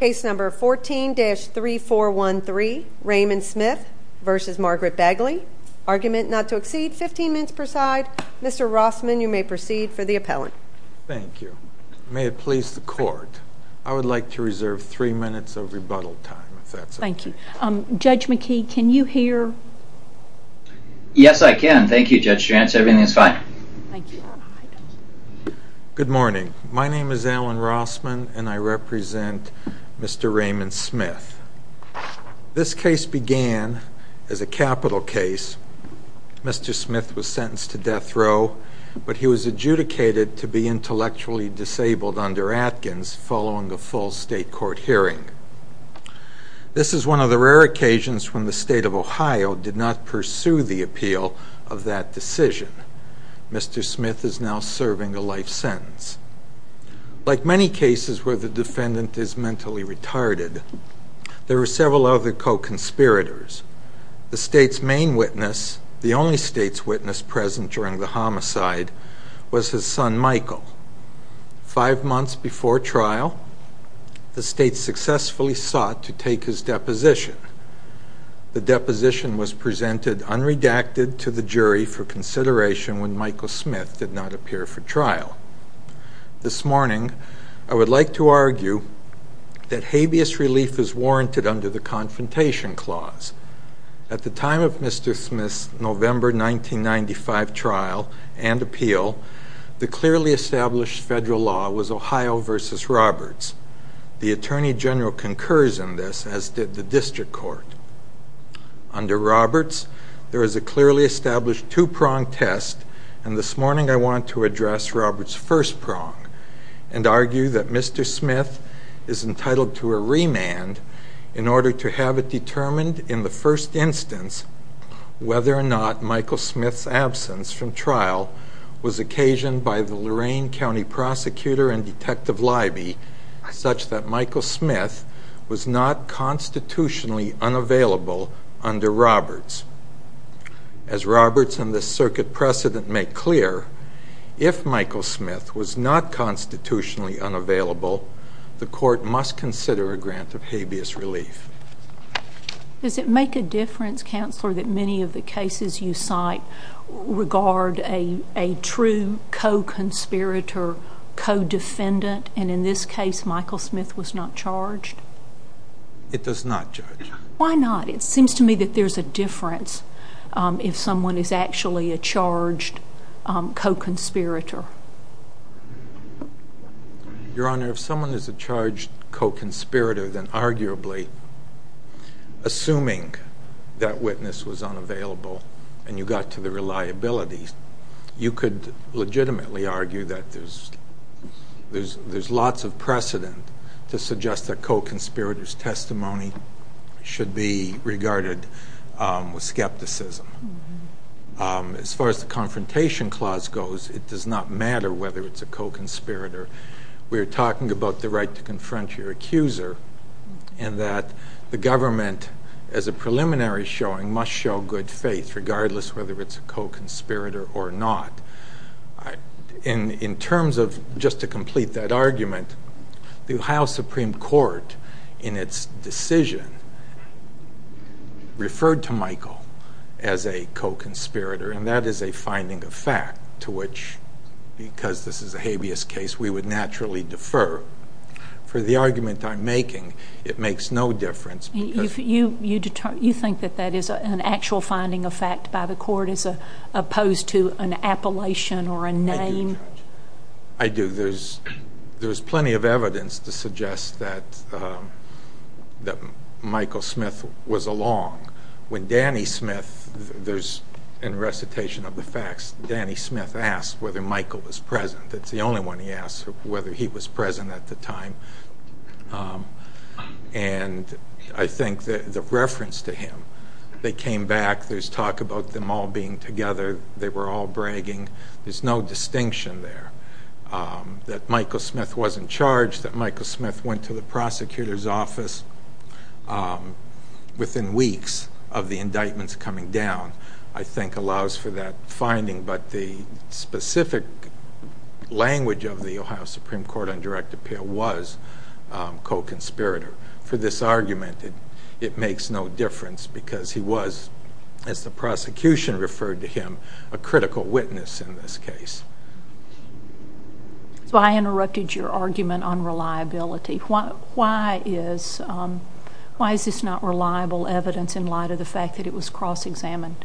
Case number 14-3413, Raymond Smith v. Margaret Bagley. Argument not to exceed 15 minutes per side. Mr. Rossman, you may proceed for the appellant. Thank you. May it please the court, I would like to reserve three minutes of rebuttal time, if that's okay. Thank you. Judge McKee, can you hear? Yes, I can. Thank you, Judge Trant. Everything is fine. Good morning. My name is Alan Rossman and I represent Mr. Raymond Smith. This case began as a capital case. Mr. Smith was sentenced to death row, but he was adjudicated to be intellectually disabled under Atkins following a full state court hearing. This is one of the rare occasions when the state of Ohio did not pursue the appeal of that decision. Mr. Smith is now serving a life sentence. Like many cases where the defendant is mentally retarded, there were several other co-conspirators. The state's main witness, the only state's witness present during the homicide, was his son, Michael. Five months before trial, the state successfully sought to take his deposition. The deposition was presented unredacted to the jury for consideration when Michael Smith did not appear for trial. This morning, I would like to argue that habeas relief is warranted under the Confrontation Clause. At the time of Mr. Smith's November 1995 trial and appeal, the clearly established federal law was Ohio v. Roberts. The Attorney General concurs in this, as did the district court. Under Roberts, there is a clearly established two-prong test, and this morning I want to address Roberts' first prong and argue that Mr. Smith is entitled to a remand in order to have it determined in the first instance whether or not Michael Smith's absence from trial was occasioned by the Lorain County Prosecutor and Detective Leiby such that Michael Smith was not constitutionally unavailable under Roberts. As Roberts and this circuit precedent make clear, if Michael Smith was not constitutionally unavailable, the court must consider a grant of habeas relief. Does it make a difference, Counselor, that many of the cases you cite regard a true co-conspirator, co-defendant, and in this case Michael Smith was not charged? It does not, Judge. Why not? It seems to me that there's a difference if someone is actually a charged co-conspirator. Your Honor, if someone is a charged co-conspirator, then arguably, assuming that witness was unavailable and you got to the reliability, you could legitimately argue that there's lots of precedent to suggest that co-conspirators' testimony should be regarded with skepticism. As far as the Confrontation Clause goes, it does not matter whether it's a co-conspirator. We're talking about the right to confront your accuser and that the government, as a preliminary showing, must show good faith regardless whether it's a co-conspirator or not. In terms of, just to complete that argument, the Ohio Supreme Court, in its decision, referred to Michael as a co-conspirator, and that is a finding of fact to which, because this is a habeas case, we would naturally defer. For the argument I'm making, it makes no difference. You think that that is an actual finding of fact by the court as opposed to an appellation or a name? I do, Judge. I do. There's plenty of evidence to suggest that Michael Smith was along. When Danny Smith, in recitation of the facts, Danny Smith asked whether Michael was present. That's the only one he asked, whether he was present at the time. And I think the reference to him, they came back, there's talk about them all being together, they were all bragging, there's no distinction there. That Michael Smith wasn't charged, that Michael Smith went to the prosecutor's office within weeks of the indictments coming down, I think allows for that finding. But the specific language of the Ohio Supreme Court on direct appeal was co-conspirator. For this argument, it makes no difference because he was, as the prosecution referred to him, a critical witness in this case. I interrupted your argument on reliability. Why is this not reliable evidence in light of the fact that it was cross-examined?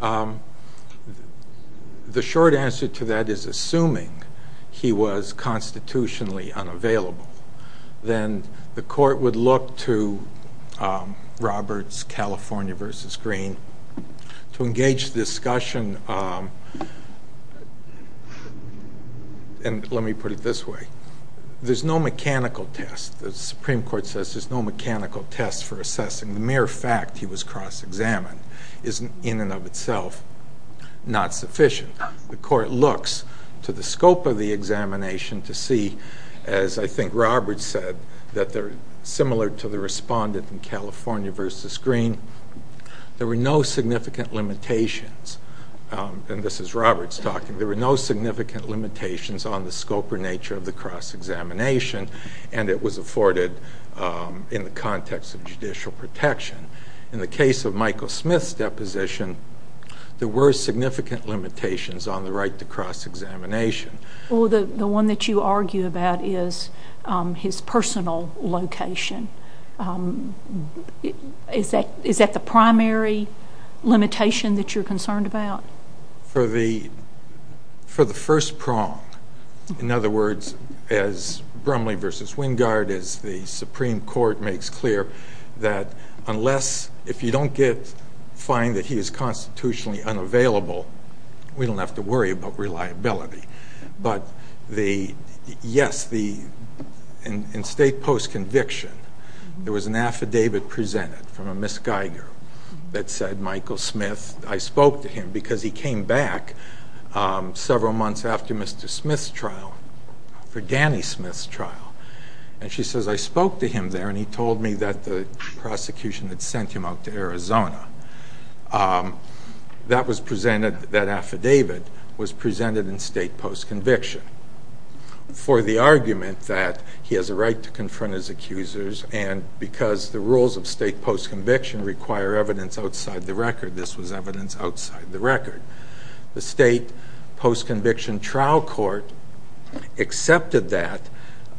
The short answer to that is, assuming he was constitutionally unavailable, then the court would look to Roberts, California v. Green, to engage the discussion. And let me put it this way. There's no mechanical test. The Supreme Court says there's no mechanical test for assessing the mere fact he was cross-examined is, in and of itself, not sufficient. The court looks to the scope of the examination to see, as I think Roberts said, that they're similar to the respondent in California v. Green. There were no significant limitations. And this is Roberts talking. There were no significant limitations on the scope or nature of the cross-examination, and it was afforded in the context of judicial protection. In the case of Michael Smith's deposition, there were significant limitations on the right to cross-examination. Well, the one that you argue about is his personal location. Is that the primary limitation that you're concerned about? For the first prong, in other words, as Brumley v. Wingard, as the Supreme Court makes clear, that unless if you don't find that he is constitutionally unavailable, we don't have to worry about reliability. But, yes, in state post-conviction, there was an affidavit presented from a Miss Geiger that said Michael Smith, I spoke to him because he came back several months after Mr. Smith's trial, for Danny Smith's trial. And she says, I spoke to him there, and he told me that the prosecution had sent him out to Arizona. That affidavit was presented in state post-conviction for the argument that he has a right to confront his accusers, and because the rules of state post-conviction require evidence outside the record, this was evidence outside the record. The state post-conviction trial court accepted that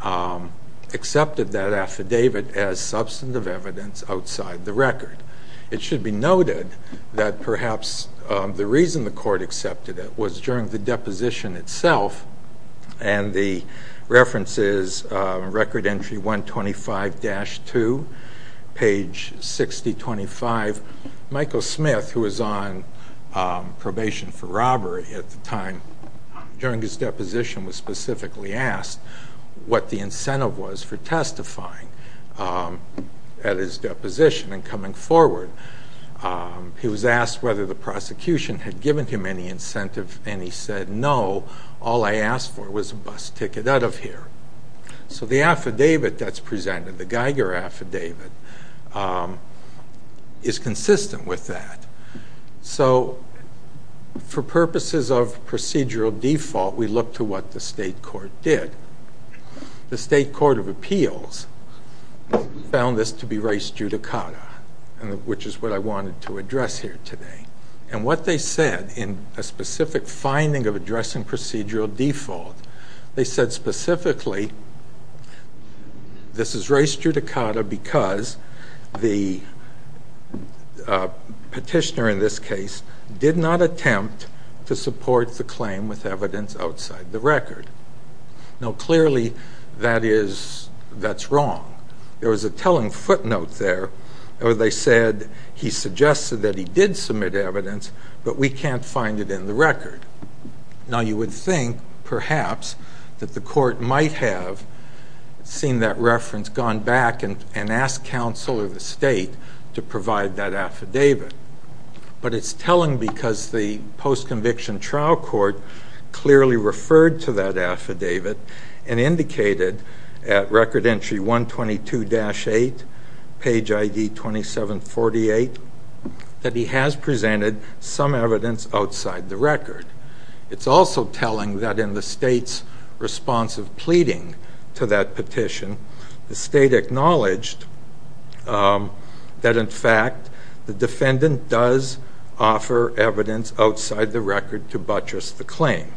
affidavit as substantive evidence outside the record. It should be noted that perhaps the reason the court accepted it was during the deposition itself, and the reference is Record Entry 125-2, page 6025. Michael Smith, who was on probation for robbery at the time during his deposition, was specifically asked what the incentive was for testifying at his deposition and coming forward. He was asked whether the prosecution had given him any incentive, and he said, no, all I asked for was a bus ticket out of here. So the affidavit that's presented, the Geiger affidavit, is consistent with that. So for purposes of procedural default, we look to what the state court did. The state court of appeals found this to be res judicata, which is what I wanted to address here today. And what they said in a specific finding of addressing procedural default, they said specifically this is res judicata because the petitioner in this case did not attempt to support the claim with evidence outside the record. Now clearly that's wrong. There was a telling footnote there where they said he suggested that he did submit it, the evidence, but we can't find it in the record. Now you would think perhaps that the court might have seen that reference, gone back and asked counsel or the state to provide that affidavit. But it's telling because the post-conviction trial court clearly referred to that affidavit and indicated at Record Entry 122-8, page ID 2748, that he has presented some evidence outside the record. It's also telling that in the state's response of pleading to that petition, the state acknowledged that, in fact, the defendant does offer evidence outside the record to buttress the claim.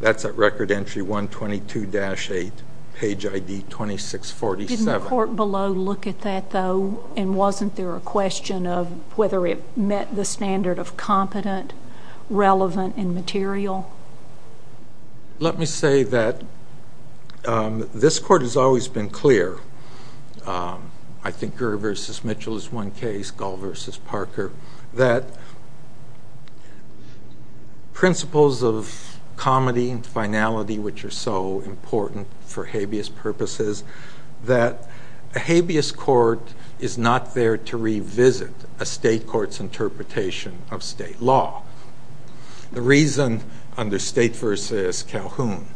That's at Record Entry 122-8, page ID 2647. Didn't the court below look at that, though, and wasn't there a question of whether it met the standard of competent, relevant, and material? Let me say that this court has always been clear. I think Gurr v. Mitchell is one case, Gall v. Parker, that principles of comity and finality, which are so important for habeas purposes, that a habeas court is not there to revisit a state court's interpretation of state law. The reason under State v. Calhoun,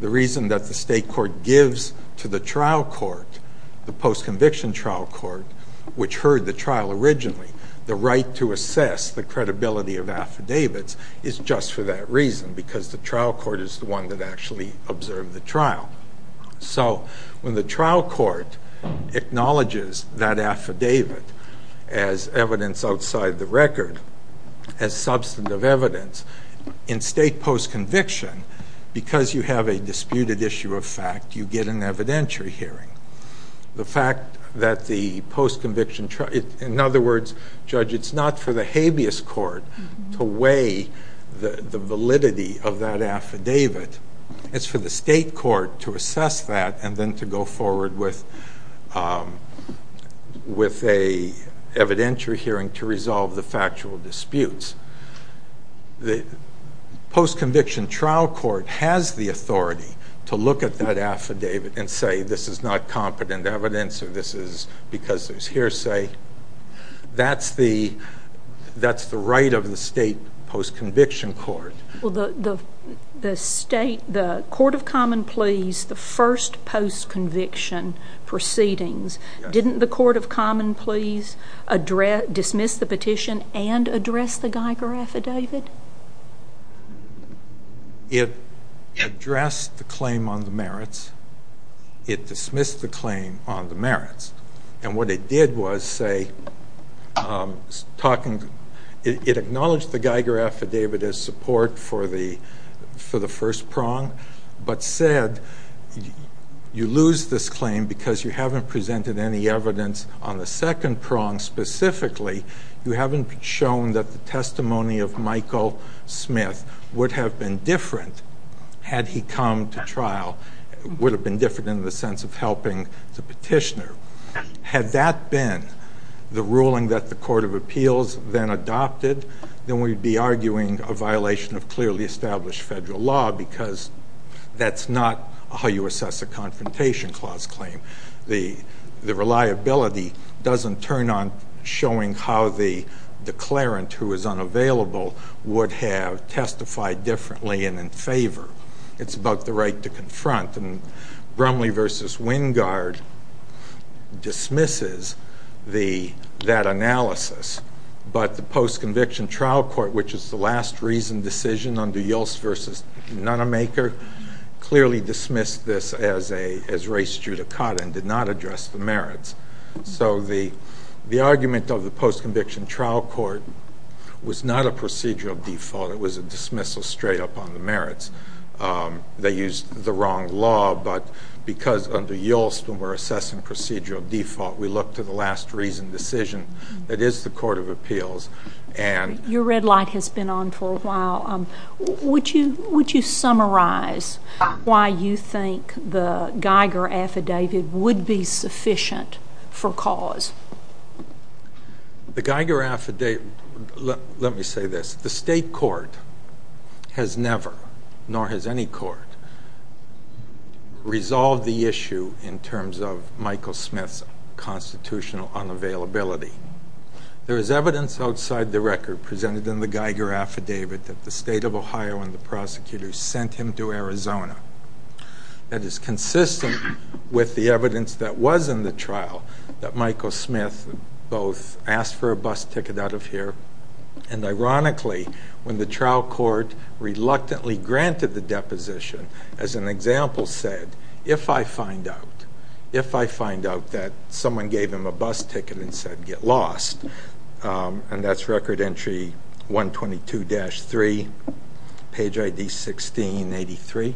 the reason that the state court gives to the trial court, the post-conviction trial court, which heard the trial originally the right to assess the credibility of affidavits, is just for that reason, because the trial court is the one that actually observed the trial. So when the trial court acknowledges that affidavit as evidence outside the record, as substantive evidence, in state post-conviction, because you have a disputed issue of fact, you get an evidentiary hearing. The fact that the post-conviction trial, in other words, Judge, it's not for the habeas court to weigh the validity of that affidavit. It's for the state court to assess that and then to go forward with an evidentiary hearing to resolve the factual disputes. The post-conviction trial court has the authority to look at that affidavit and say this is not competent evidence or this is because there's hearsay. That's the right of the state post-conviction court. Well, the court of common pleas, the first post-conviction proceedings, didn't the court of common pleas dismiss the petition and address the Geiger affidavit? It addressed the claim on the merits. It dismissed the claim on the merits. And what it did was say, it acknowledged the Geiger affidavit as support for the first prong, but said you lose this claim because you haven't presented any evidence on the second prong specifically. You haven't shown that the testimony of Michael Smith would have been different had he come to trial, would have been different in the sense of helping the petitioner. Had that been the ruling that the court of appeals then adopted, then we'd be arguing a violation of clearly established federal law because that's not how you assess a confrontation clause claim. The reliability doesn't turn on showing how the declarant, who is unavailable, would have testified differently and in favor. It's about the right to confront. And Bromley v. Wingard dismisses that analysis, but the post-conviction trial court, which is the last reasoned decision under Yeltsin v. Nunnemaker, clearly dismissed this as race judicata and did not address the merits. So the argument of the post-conviction trial court was not a procedural default. It was a dismissal straight up on the merits. They used the wrong law, but because under Yeltsin we're assessing procedural default, we look to the last reasoned decision that is the court of appeals. Your red light has been on for a while. Would you summarize why you think the Geiger affidavit would be sufficient for cause? The Geiger affidavit, let me say this. The state court has never, nor has any court, resolved the issue in terms of Michael Smith's constitutional unavailability. There is evidence outside the record presented in the Geiger affidavit that the state of Ohio and the prosecutors sent him to Arizona. That is consistent with the evidence that was in the trial, that Michael Smith both asked for a bus ticket out of here, and ironically when the trial court reluctantly granted the deposition, as an example said, if I find out, if I find out that someone gave him a bus ticket and said get lost, and that's record entry 122-3, page ID 1683-4,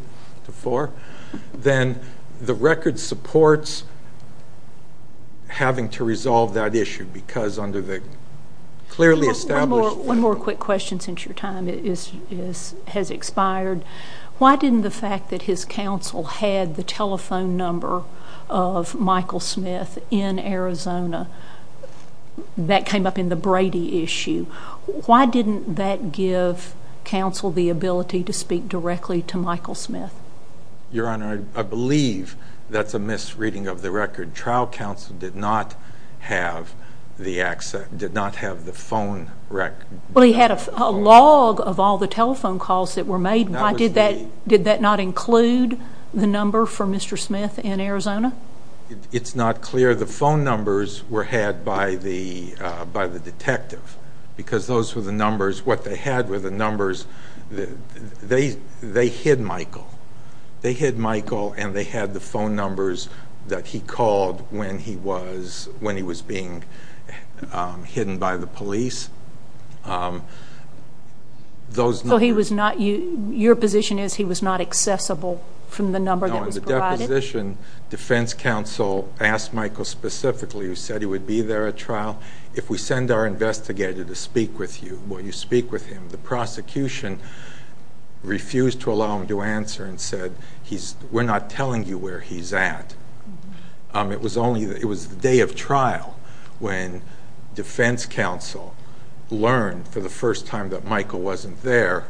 then the record supports having to resolve that issue because under the clearly established... One more quick question since your time has expired. Why didn't the fact that his counsel had the telephone number of Michael Smith in Arizona, that came up in the Brady issue, why didn't that give counsel the ability to speak directly to Michael Smith? Your Honor, I believe that's a misreading of the record. Trial counsel did not have the phone record. Well, he had a log of all the telephone calls that were made. Did that not include the number for Mr. Smith in Arizona? It's not clear. The phone numbers were had by the detective because those were the numbers. What they had were the numbers. They hid Michael. They hid Michael and they had the phone numbers that he called when he was being hidden by the police. Your position is he was not accessible from the number that was provided? No, in the deposition defense counsel asked Michael specifically, who said he would be there at trial, if we send our investigator to speak with you, will you speak with him? The prosecution refused to allow him to answer and said, we're not telling you where he's at. It was the day of trial when defense counsel learned for the first time that Michael wasn't there.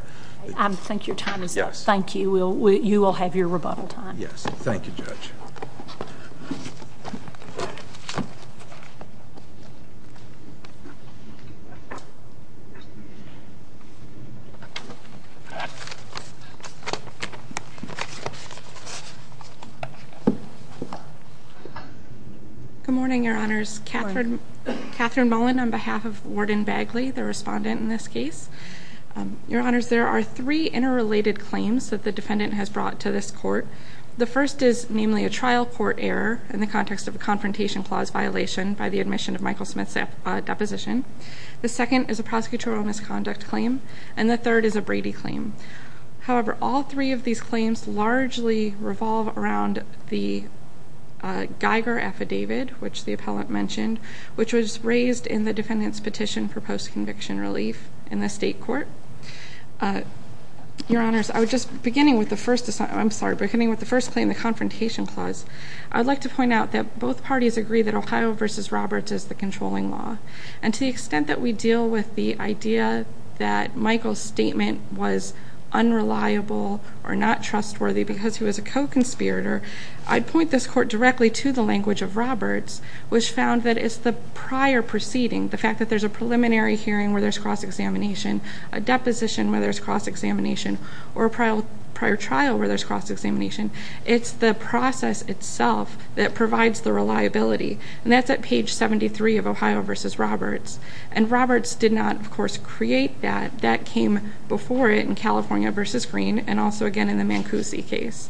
I think your time is up. Thank you. You will have your rebuttal time. Yes. Thank you, Judge. Good morning, Your Honors. Good morning. Catherine Mullen on behalf of Warden Bagley, the respondent in this case. Your Honors, there are three interrelated claims that the defendant has brought to this court. The first is namely a trial court error in the context of a confrontation clause violation by the admission of Michael Smith's deposition. The second is a prosecutorial misconduct claim. And the third is a Brady claim. However, all three of these claims largely revolve around the Geiger affidavit, which was raised in the defendant's petition for post-conviction relief in the state court. Your Honors, beginning with the first claim, the confrontation clause, I would like to point out that both parties agree that Ohio v. Roberts is the controlling law. And to the extent that we deal with the idea that Michael's statement was unreliable or not trustworthy because he was a co-conspirator, I'd point this court directly to the language of Roberts, which found that it's the prior proceeding, the fact that there's a preliminary hearing where there's cross-examination, a deposition where there's cross-examination, or a prior trial where there's cross-examination, it's the process itself that provides the reliability. And that's at page 73 of Ohio v. Roberts. And Roberts did not, of course, create that. That came before it in California v. Green and also, again, in the Mancusi case.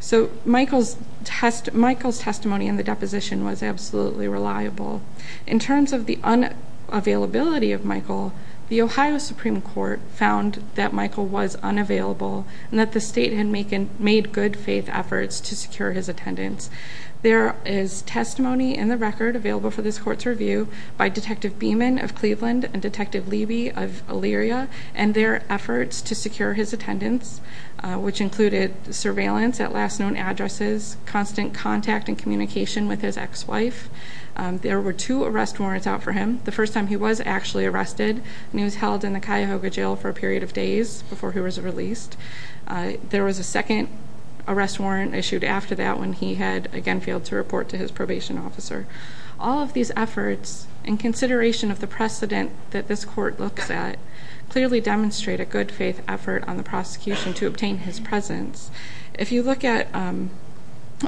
So Michael's testimony in the deposition was absolutely reliable. In terms of the unavailability of Michael, the Ohio Supreme Court found that Michael was unavailable and that the state had made good faith efforts to secure his attendance. There is testimony in the record available for this court's review by Detective Beeman of Cleveland and Detective Leiby of Elyria and their efforts to secure his attendance, which included surveillance at last known addresses, constant contact and communication with his ex-wife. There were two arrest warrants out for him. The first time he was actually arrested and he was held in the Cuyahoga jail for a period of days before he was released. There was a second arrest warrant issued after that when he had, again, failed to report to his probation officer. All of these efforts, in consideration of the precedent that this court looks at, clearly demonstrate a good faith effort on the prosecution to obtain his presence. If you look at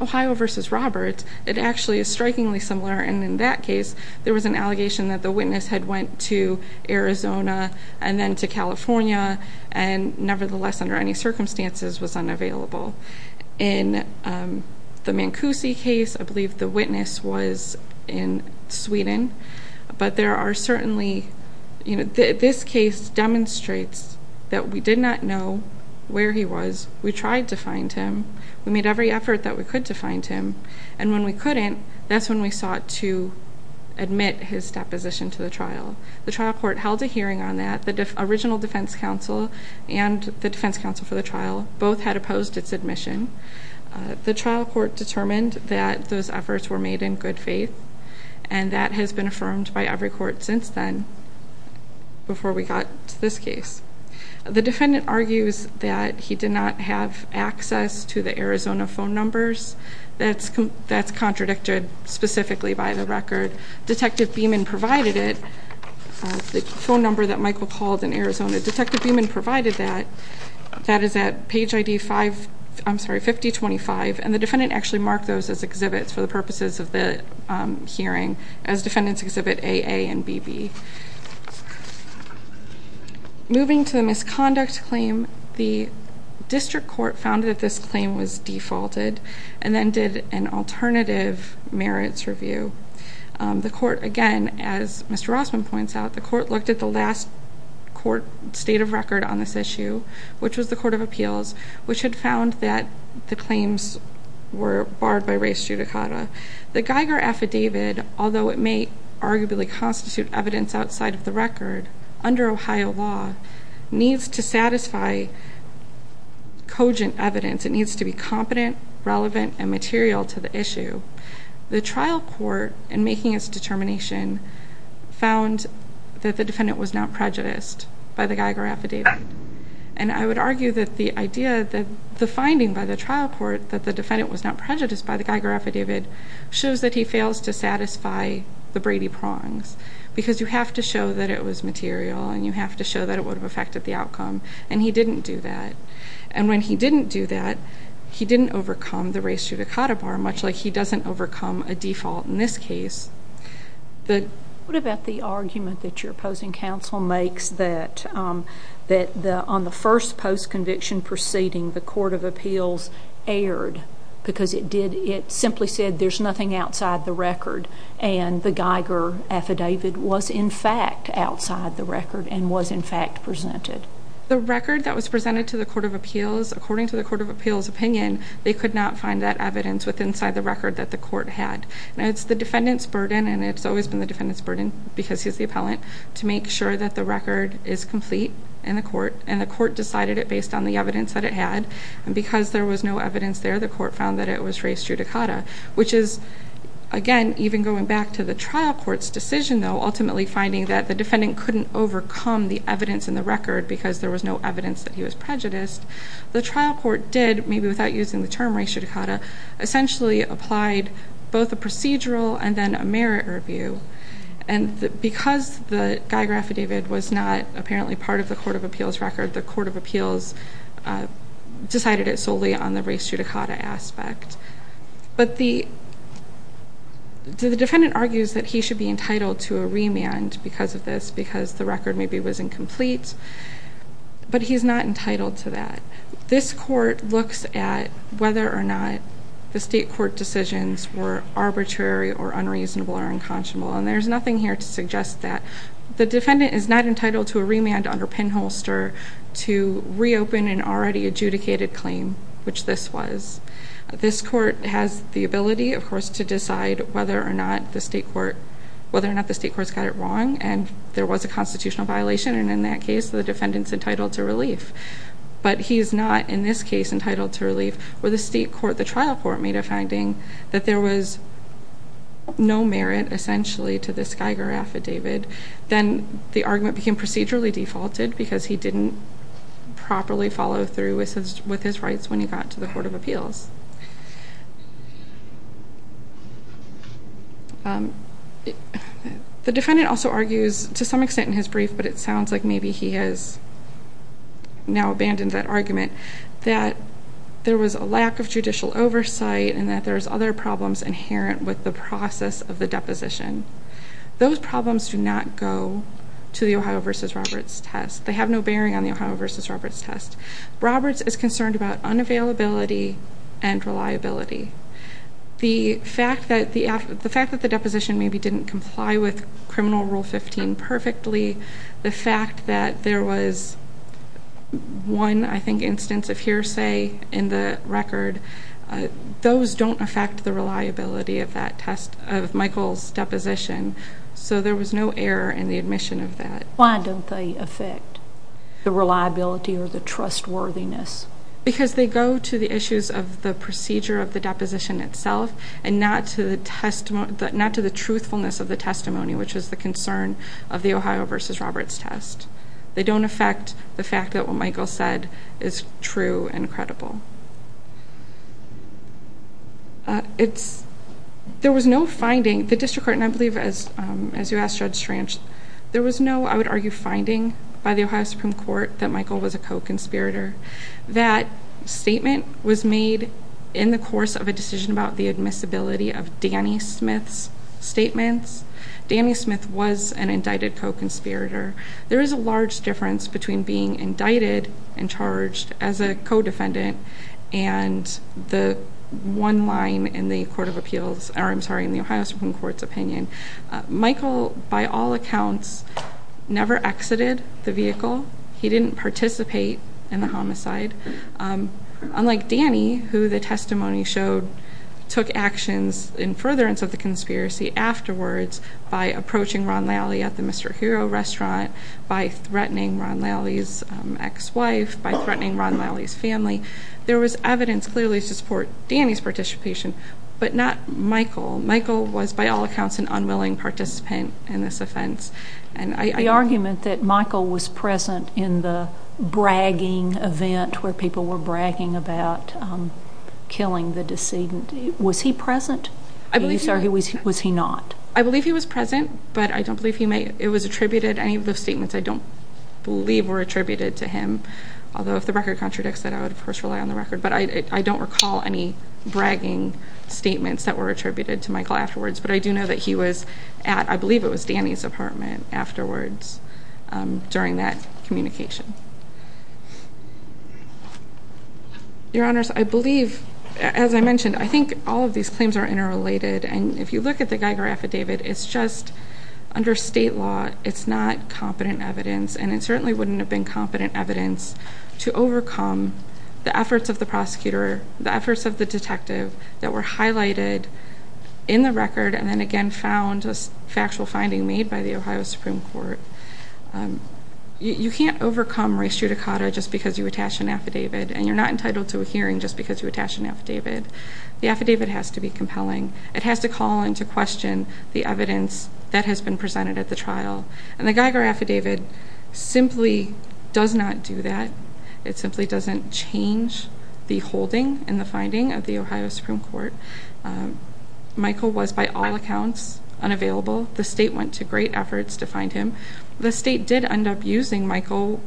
Ohio v. Roberts, it actually is strikingly similar. And in that case, there was an allegation that the witness had went to Arizona and then to California and nevertheless, under any circumstances, was unavailable. In the Mancusi case, I believe the witness was in Sweden. But there are certainly, you know, this case demonstrates that we did not know where he was. We tried to find him. We made every effort that we could to find him. And when we couldn't, that's when we sought to admit his deposition to the trial. The trial court held a hearing on that. The original defense counsel and the defense counsel for the trial both had opposed its admission. The trial court determined that those efforts were made in good faith, and that has been affirmed by every court since then before we got to this case. The defendant argues that he did not have access to the Arizona phone numbers. That's contradicted specifically by the record. Detective Beeman provided it, the phone number that Michael called in Arizona. Detective Beeman provided that. That is at page ID 5025, and the defendant actually marked those as exhibits for the purposes of the hearing as defendants exhibit AA and BB. Moving to the misconduct claim, the district court found that this claim was defaulted and then did an alternative merits review. The court, again, as Mr. Rossman points out, the court looked at the last court state of record on this issue, which was the Court of Appeals, which had found that the claims were barred by res judicata. The Geiger affidavit, although it may arguably constitute evidence outside of the record, under Ohio law, needs to satisfy cogent evidence. It needs to be competent, relevant, and material to the issue. The trial court, in making its determination, found that the defendant was not prejudiced by the Geiger affidavit. And I would argue that the idea that the finding by the trial court that the defendant was not prejudiced by the Geiger affidavit shows that he fails to satisfy the Brady prongs because you have to show that it was material and you have to show that it would have affected the outcome, and he didn't do that. And when he didn't do that, he didn't overcome the res judicata bar, much like he doesn't overcome a default in this case. What about the argument that your opposing counsel makes that on the first post-conviction proceeding, the Court of Appeals erred because it simply said there's nothing outside the record, and the Geiger affidavit was, in fact, outside the record and was, in fact, presented? The record that was presented to the Court of Appeals, according to the Court of Appeals' opinion, they could not find that evidence inside the record that the court had. And it's the defendant's burden, and it's always been the defendant's burden because he's the appellant, to make sure that the record is complete in the court, and the court decided it based on the evidence that it had. And because there was no evidence there, the court found that it was res judicata, which is, again, even going back to the trial court's decision, though, ultimately finding that the defendant couldn't overcome the evidence in the record because there was no evidence that he was prejudiced, the trial court did, maybe without using the term res judicata, essentially applied both a procedural and then a merit review. And because the Geiger affidavit was not apparently part of the Court of Appeals' record, the Court of Appeals decided it solely on the res judicata aspect. But the defendant argues that he should be entitled to a remand because of this, because the record maybe was incomplete, but he's not entitled to that. This court looks at whether or not the state court decisions were arbitrary or unreasonable or unconscionable, and there's nothing here to suggest that. The defendant is not entitled to a remand under pinholster to reopen an already adjudicated claim, which this was. This court has the ability, of course, to decide whether or not the state court's got it wrong, and there was a constitutional violation, and in that case, the defendant's entitled to relief. But he's not, in this case, entitled to relief, where the state court, the trial court, made a finding that there was no merit, essentially, to this Geiger affidavit. Then the argument became procedurally defaulted because he didn't properly follow through with his rights when he got to the Court of Appeals. The defendant also argues, to some extent in his brief, but it sounds like maybe he has now abandoned that argument, that there was a lack of judicial oversight and that there's other problems inherent with the process of the deposition. Those problems do not go to the Ohio v. Roberts test. They have no bearing on the Ohio v. Roberts test. Roberts is concerned about unavailability and reliability. The fact that the deposition maybe didn't comply with Criminal Rule 15 perfectly, the fact that there was one, I think, instance of hearsay in the record, those don't affect the reliability of Michael's deposition. So there was no error in the admission of that. Why don't they affect the reliability or the trustworthiness? Because they go to the issues of the procedure of the deposition itself and not to the truthfulness of the testimony, which is the concern of the Ohio v. Roberts test. They don't affect the fact that what Michael said is true and credible. There was no finding. The district court, and I believe, as you asked Judge Schranch, there was no, I would argue, finding by the Ohio Supreme Court that Michael was a co-conspirator. That statement was made in the course of a decision about the admissibility of Danny Smith's statements. Danny Smith was an indicted co-conspirator. There is a large difference between being indicted and charged as a co-defendant and the one line in the Ohio Supreme Court's opinion. Michael, by all accounts, never exited the vehicle. He didn't participate in the homicide. Unlike Danny, who the testimony showed took actions in furtherance of the conspiracy afterwards by approaching Ron Lally at the Mr. Hero restaurant, by threatening Ron Lally's ex-wife, by threatening Ron Lally's family. There was evidence clearly to support Danny's participation, but not Michael. Michael was, by all accounts, an unwilling participant in this offense. The argument that Michael was present in the bragging event where people were bragging about killing the decedent, was he present? I believe he was. Was he not? I believe he was present, but I don't believe it was attributed. Any of the statements I don't believe were attributed to him, although if the record contradicts that, I would, of course, rely on the record. But I don't recall any bragging statements that were attributed to Michael afterwards, but I do know that he was at, I believe it was, Danny's apartment afterwards during that communication. Your Honors, I believe, as I mentioned, I think all of these claims are interrelated, and if you look at the Geiger affidavit, it's just under state law, it's not competent evidence, and it certainly wouldn't have been competent evidence to overcome the efforts of the prosecutor, the efforts of the detective that were highlighted in the record, and then again found a factual finding made by the Ohio Supreme Court. You can't overcome res judicata just because you attach an affidavit, and you're not entitled to a hearing just because you attach an affidavit. The affidavit has to be compelling. It has to call into question the evidence that has been presented at the trial, and the Geiger affidavit simply does not do that. It simply doesn't change the holding and the finding of the Ohio Supreme Court. Michael was, by all accounts, unavailable. The state went to great efforts to find him. The state did end up using Michael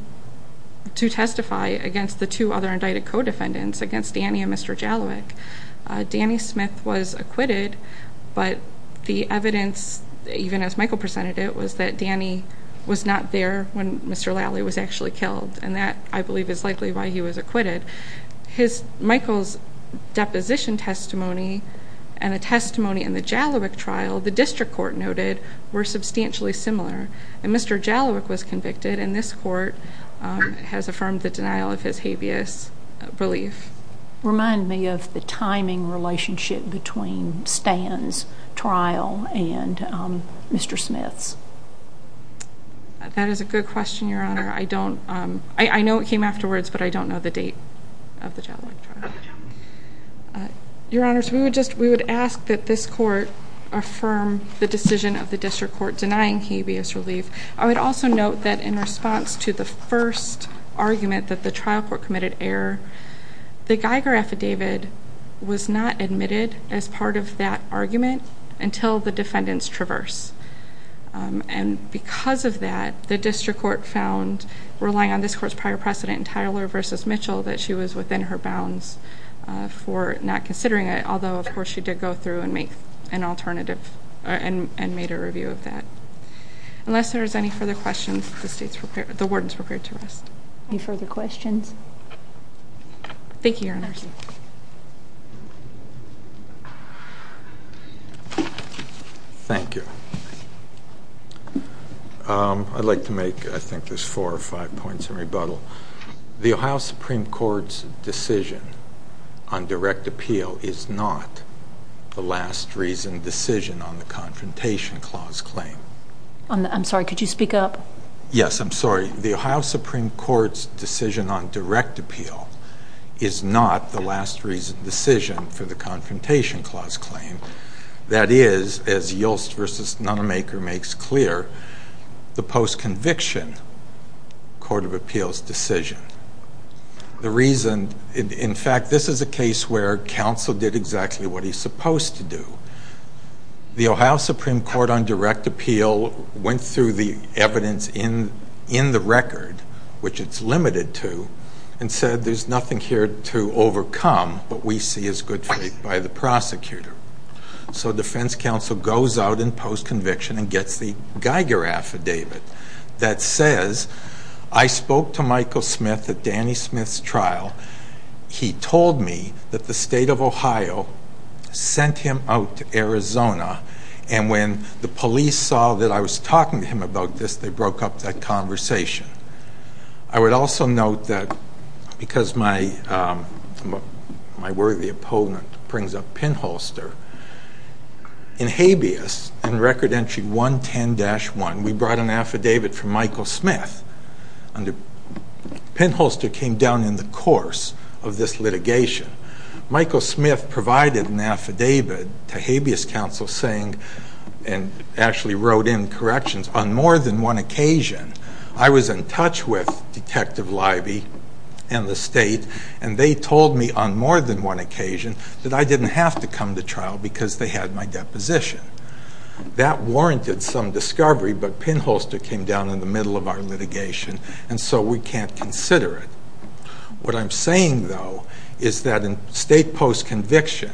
to testify against the two other indicted co-defendants, against Danny and Mr. Jalowiek. Danny Smith was acquitted, but the evidence, even as Michael presented it, was that Danny was not there when Mr. Lally was actually killed, and that, I believe, is likely why he was acquitted. Michael's deposition testimony and a testimony in the Jalowiek trial, the district court noted, were substantially similar. Mr. Jalowiek was convicted, and this court has affirmed the denial of his habeas relief. Remind me of the timing relationship between Stan's trial and Mr. Smith's. That is a good question, Your Honor. I know it came afterwards, but I don't know the date of the Jalowiek trial. Your Honor, we would ask that this court affirm the decision of the district court denying habeas relief. I would also note that in response to the first argument that the trial court committed error, the Geiger affidavit was not admitted as part of that argument until the defendants traverse. And because of that, the district court found, relying on this court's prior precedent, in Tyler v. Mitchell, that she was within her bounds for not considering it, although, of course, she did go through and make an alternative and made a review of that. Unless there is any further questions, the warden is prepared to rest. Any further questions? Thank you, Your Honor. Thank you. I'd like to make, I think there's four or five points in rebuttal. The Ohio Supreme Court's decision on direct appeal is not the last reason decision on the Confrontation Clause claim. I'm sorry, could you speak up? Yes, I'm sorry. The Ohio Supreme Court's decision on direct appeal is not the last reason decision for the Confrontation Clause claim. That is, as Yulst v. Nunemaker makes clear, the post-conviction court of appeals decision. The reason, in fact, this is a case where counsel did exactly what he's supposed to do. The Ohio Supreme Court on direct appeal went through the evidence in the record, which it's limited to, and said there's nothing here to overcome, but we see as good faith by the prosecutor. So defense counsel goes out in post-conviction and gets the Geiger affidavit that says, I spoke to Michael Smith at Danny Smith's trial. He told me that the state of Ohio sent him out to Arizona, and when the police saw that I was talking to him about this, they broke up that conversation. I would also note that because my worthy opponent brings up Pinholster, in habeas, in Record Entry 110-1, we brought an affidavit from Michael Smith. Pinholster came down in the course of this litigation. Michael Smith provided an affidavit to habeas counsel saying, and actually wrote in corrections, on more than one occasion, I was in touch with Detective Leiby and the state, and they told me on more than one occasion that I didn't have to come to trial because they had my deposition. That warranted some discovery, but Pinholster came down in the middle of our litigation, and so we can't consider it. What I'm saying, though, is that in state post-conviction,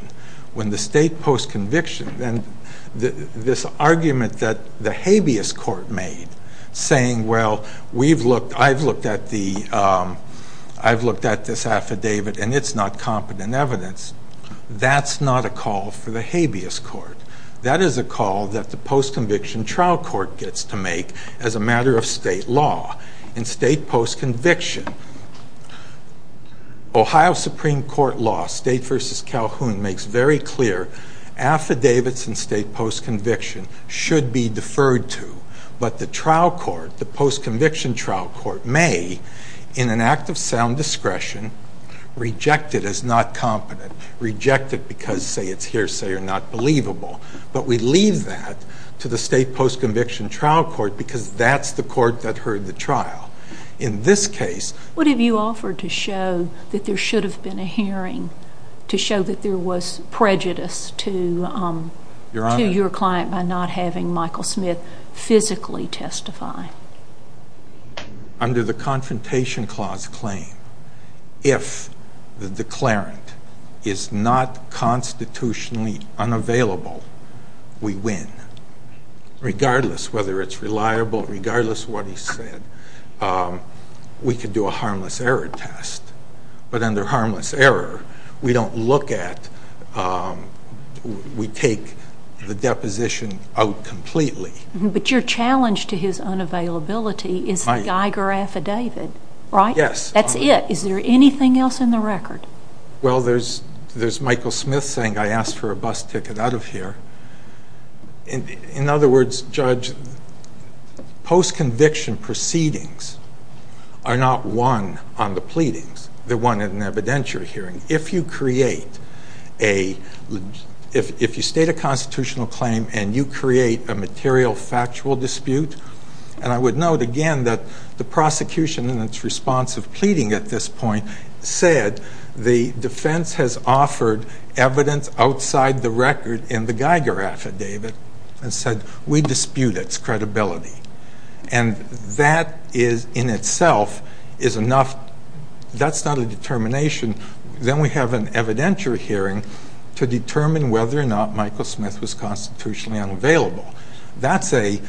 when the state post-conviction, this argument that the habeas court made, saying, well, I've looked at this affidavit and it's not competent evidence, that's not a call for the habeas court. That is a call that the post-conviction trial court gets to make as a matter of state law. In state post-conviction, Ohio Supreme Court law, State v. Calhoun, makes very clear affidavits in state post-conviction should be deferred to, but the trial court, the post-conviction trial court, may, in an act of sound discretion, reject it as not competent, reject it because, say, it's hearsay or not believable, but we leave that to the state post-conviction trial court because that's the court that heard the trial. What have you offered to show that there should have been a hearing to show that there was prejudice to your client by not having Michael Smith physically testify? Under the Confrontation Clause claim, if the declarant is not constitutionally unavailable, we win, regardless whether it's reliable, regardless what he said, we could do a harmless error test. But under harmless error, we don't look at, we take the deposition out completely. But your challenge to his unavailability is the Geiger affidavit, right? Yes. That's it. Is there anything else in the record? Well, there's Michael Smith saying, I asked for a bus ticket out of here. In other words, Judge, post-conviction proceedings are not won on the pleadings. They're won at an evidentiary hearing. If you create a, if you state a constitutional claim and you create a material factual dispute, and I would note again that the prosecution in its response of pleading at this point said the defense has offered evidence outside the record in the Geiger affidavit and said we dispute its credibility. And that is, in itself, is enough, that's not a determination. Then we have an evidentiary hearing to determine whether or not Michael Smith was constitutionally unavailable. That's a,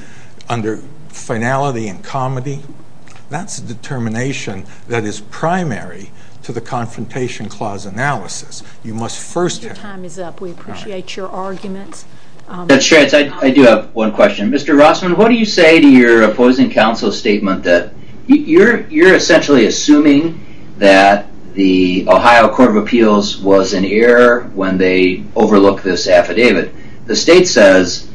under finality and comity, that's a determination that is primary to the Confrontation Clause analysis. You must first have. Your time is up. We appreciate your arguments. Judge Stranz, I do have one question. Mr. Rossman, what do you say to your opposing counsel's statement that you're essentially assuming that the Ohio Court of Appeals was in error when they overlooked this affidavit. The state says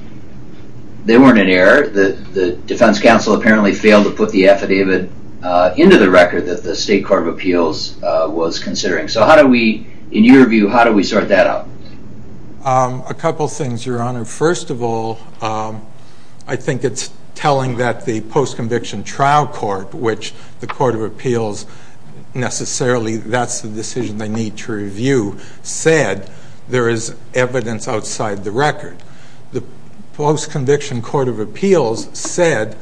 they weren't in error. The defense counsel apparently failed to put the affidavit into the record that the State Court of Appeals was considering. So how do we, in your view, how do we sort that out? A couple things, Your Honor. First of all, I think it's telling that the post-conviction trial court, which the Court of Appeals necessarily, that's the decision they need to review, said there is evidence outside the record. The post-conviction Court of Appeals said,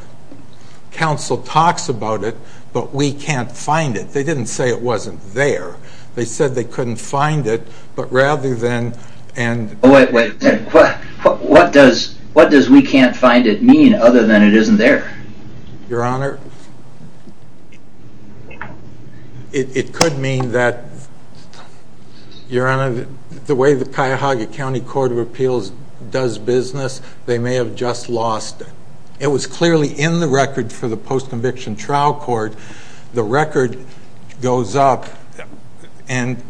counsel talks about it, but we can't find it. They didn't say it wasn't there. They said they couldn't find it, but rather than, and. Wait, wait. What does, what does we can't find it mean other than it isn't there? Your Honor. It could mean that, Your Honor, the way the Cuyahoga County Court of Appeals does business, they may have just lost. It was clearly in the record for the post-conviction trial court. The record goes up, and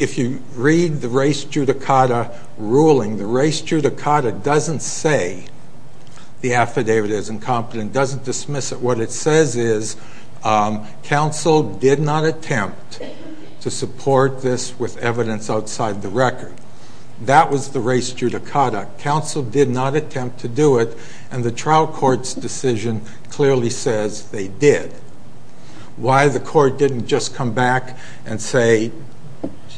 if you read the race judicata ruling, the race judicata doesn't say the affidavit is incompetent, and doesn't dismiss it. What it says is, counsel did not attempt to support this with evidence outside the record. That was the race judicata. Counsel did not attempt to do it, and the trial court's decision clearly says they did. Why the court didn't just come back and say,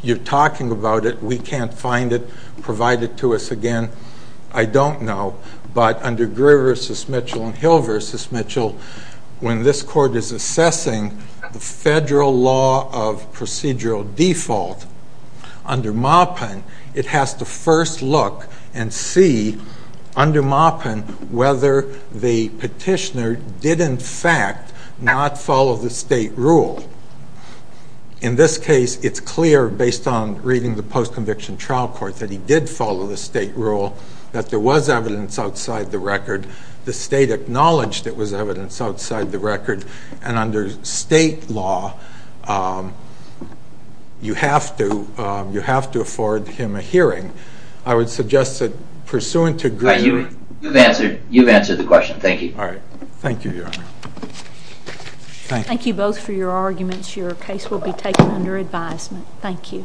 you're talking about it, we can't find it, provide it to us again, I don't know. But under Greer v. Mitchell and Hill v. Mitchell, when this court is assessing the federal law of procedural default, under Maupin, it has to first look and see, under Maupin, whether the petitioner did, in fact, not follow the state rule. In this case, it's clear, based on reading the post-conviction trial court, that he did follow the state rule, that there was evidence outside the record, the state acknowledged it was evidence outside the record, and under state law, you have to afford him a hearing. I would suggest that pursuant to Greer's... You've answered the question. Thank you. All right. Thank you, Your Honor. Thank you both for your arguments. Your case will be taken under advisement. Thank you.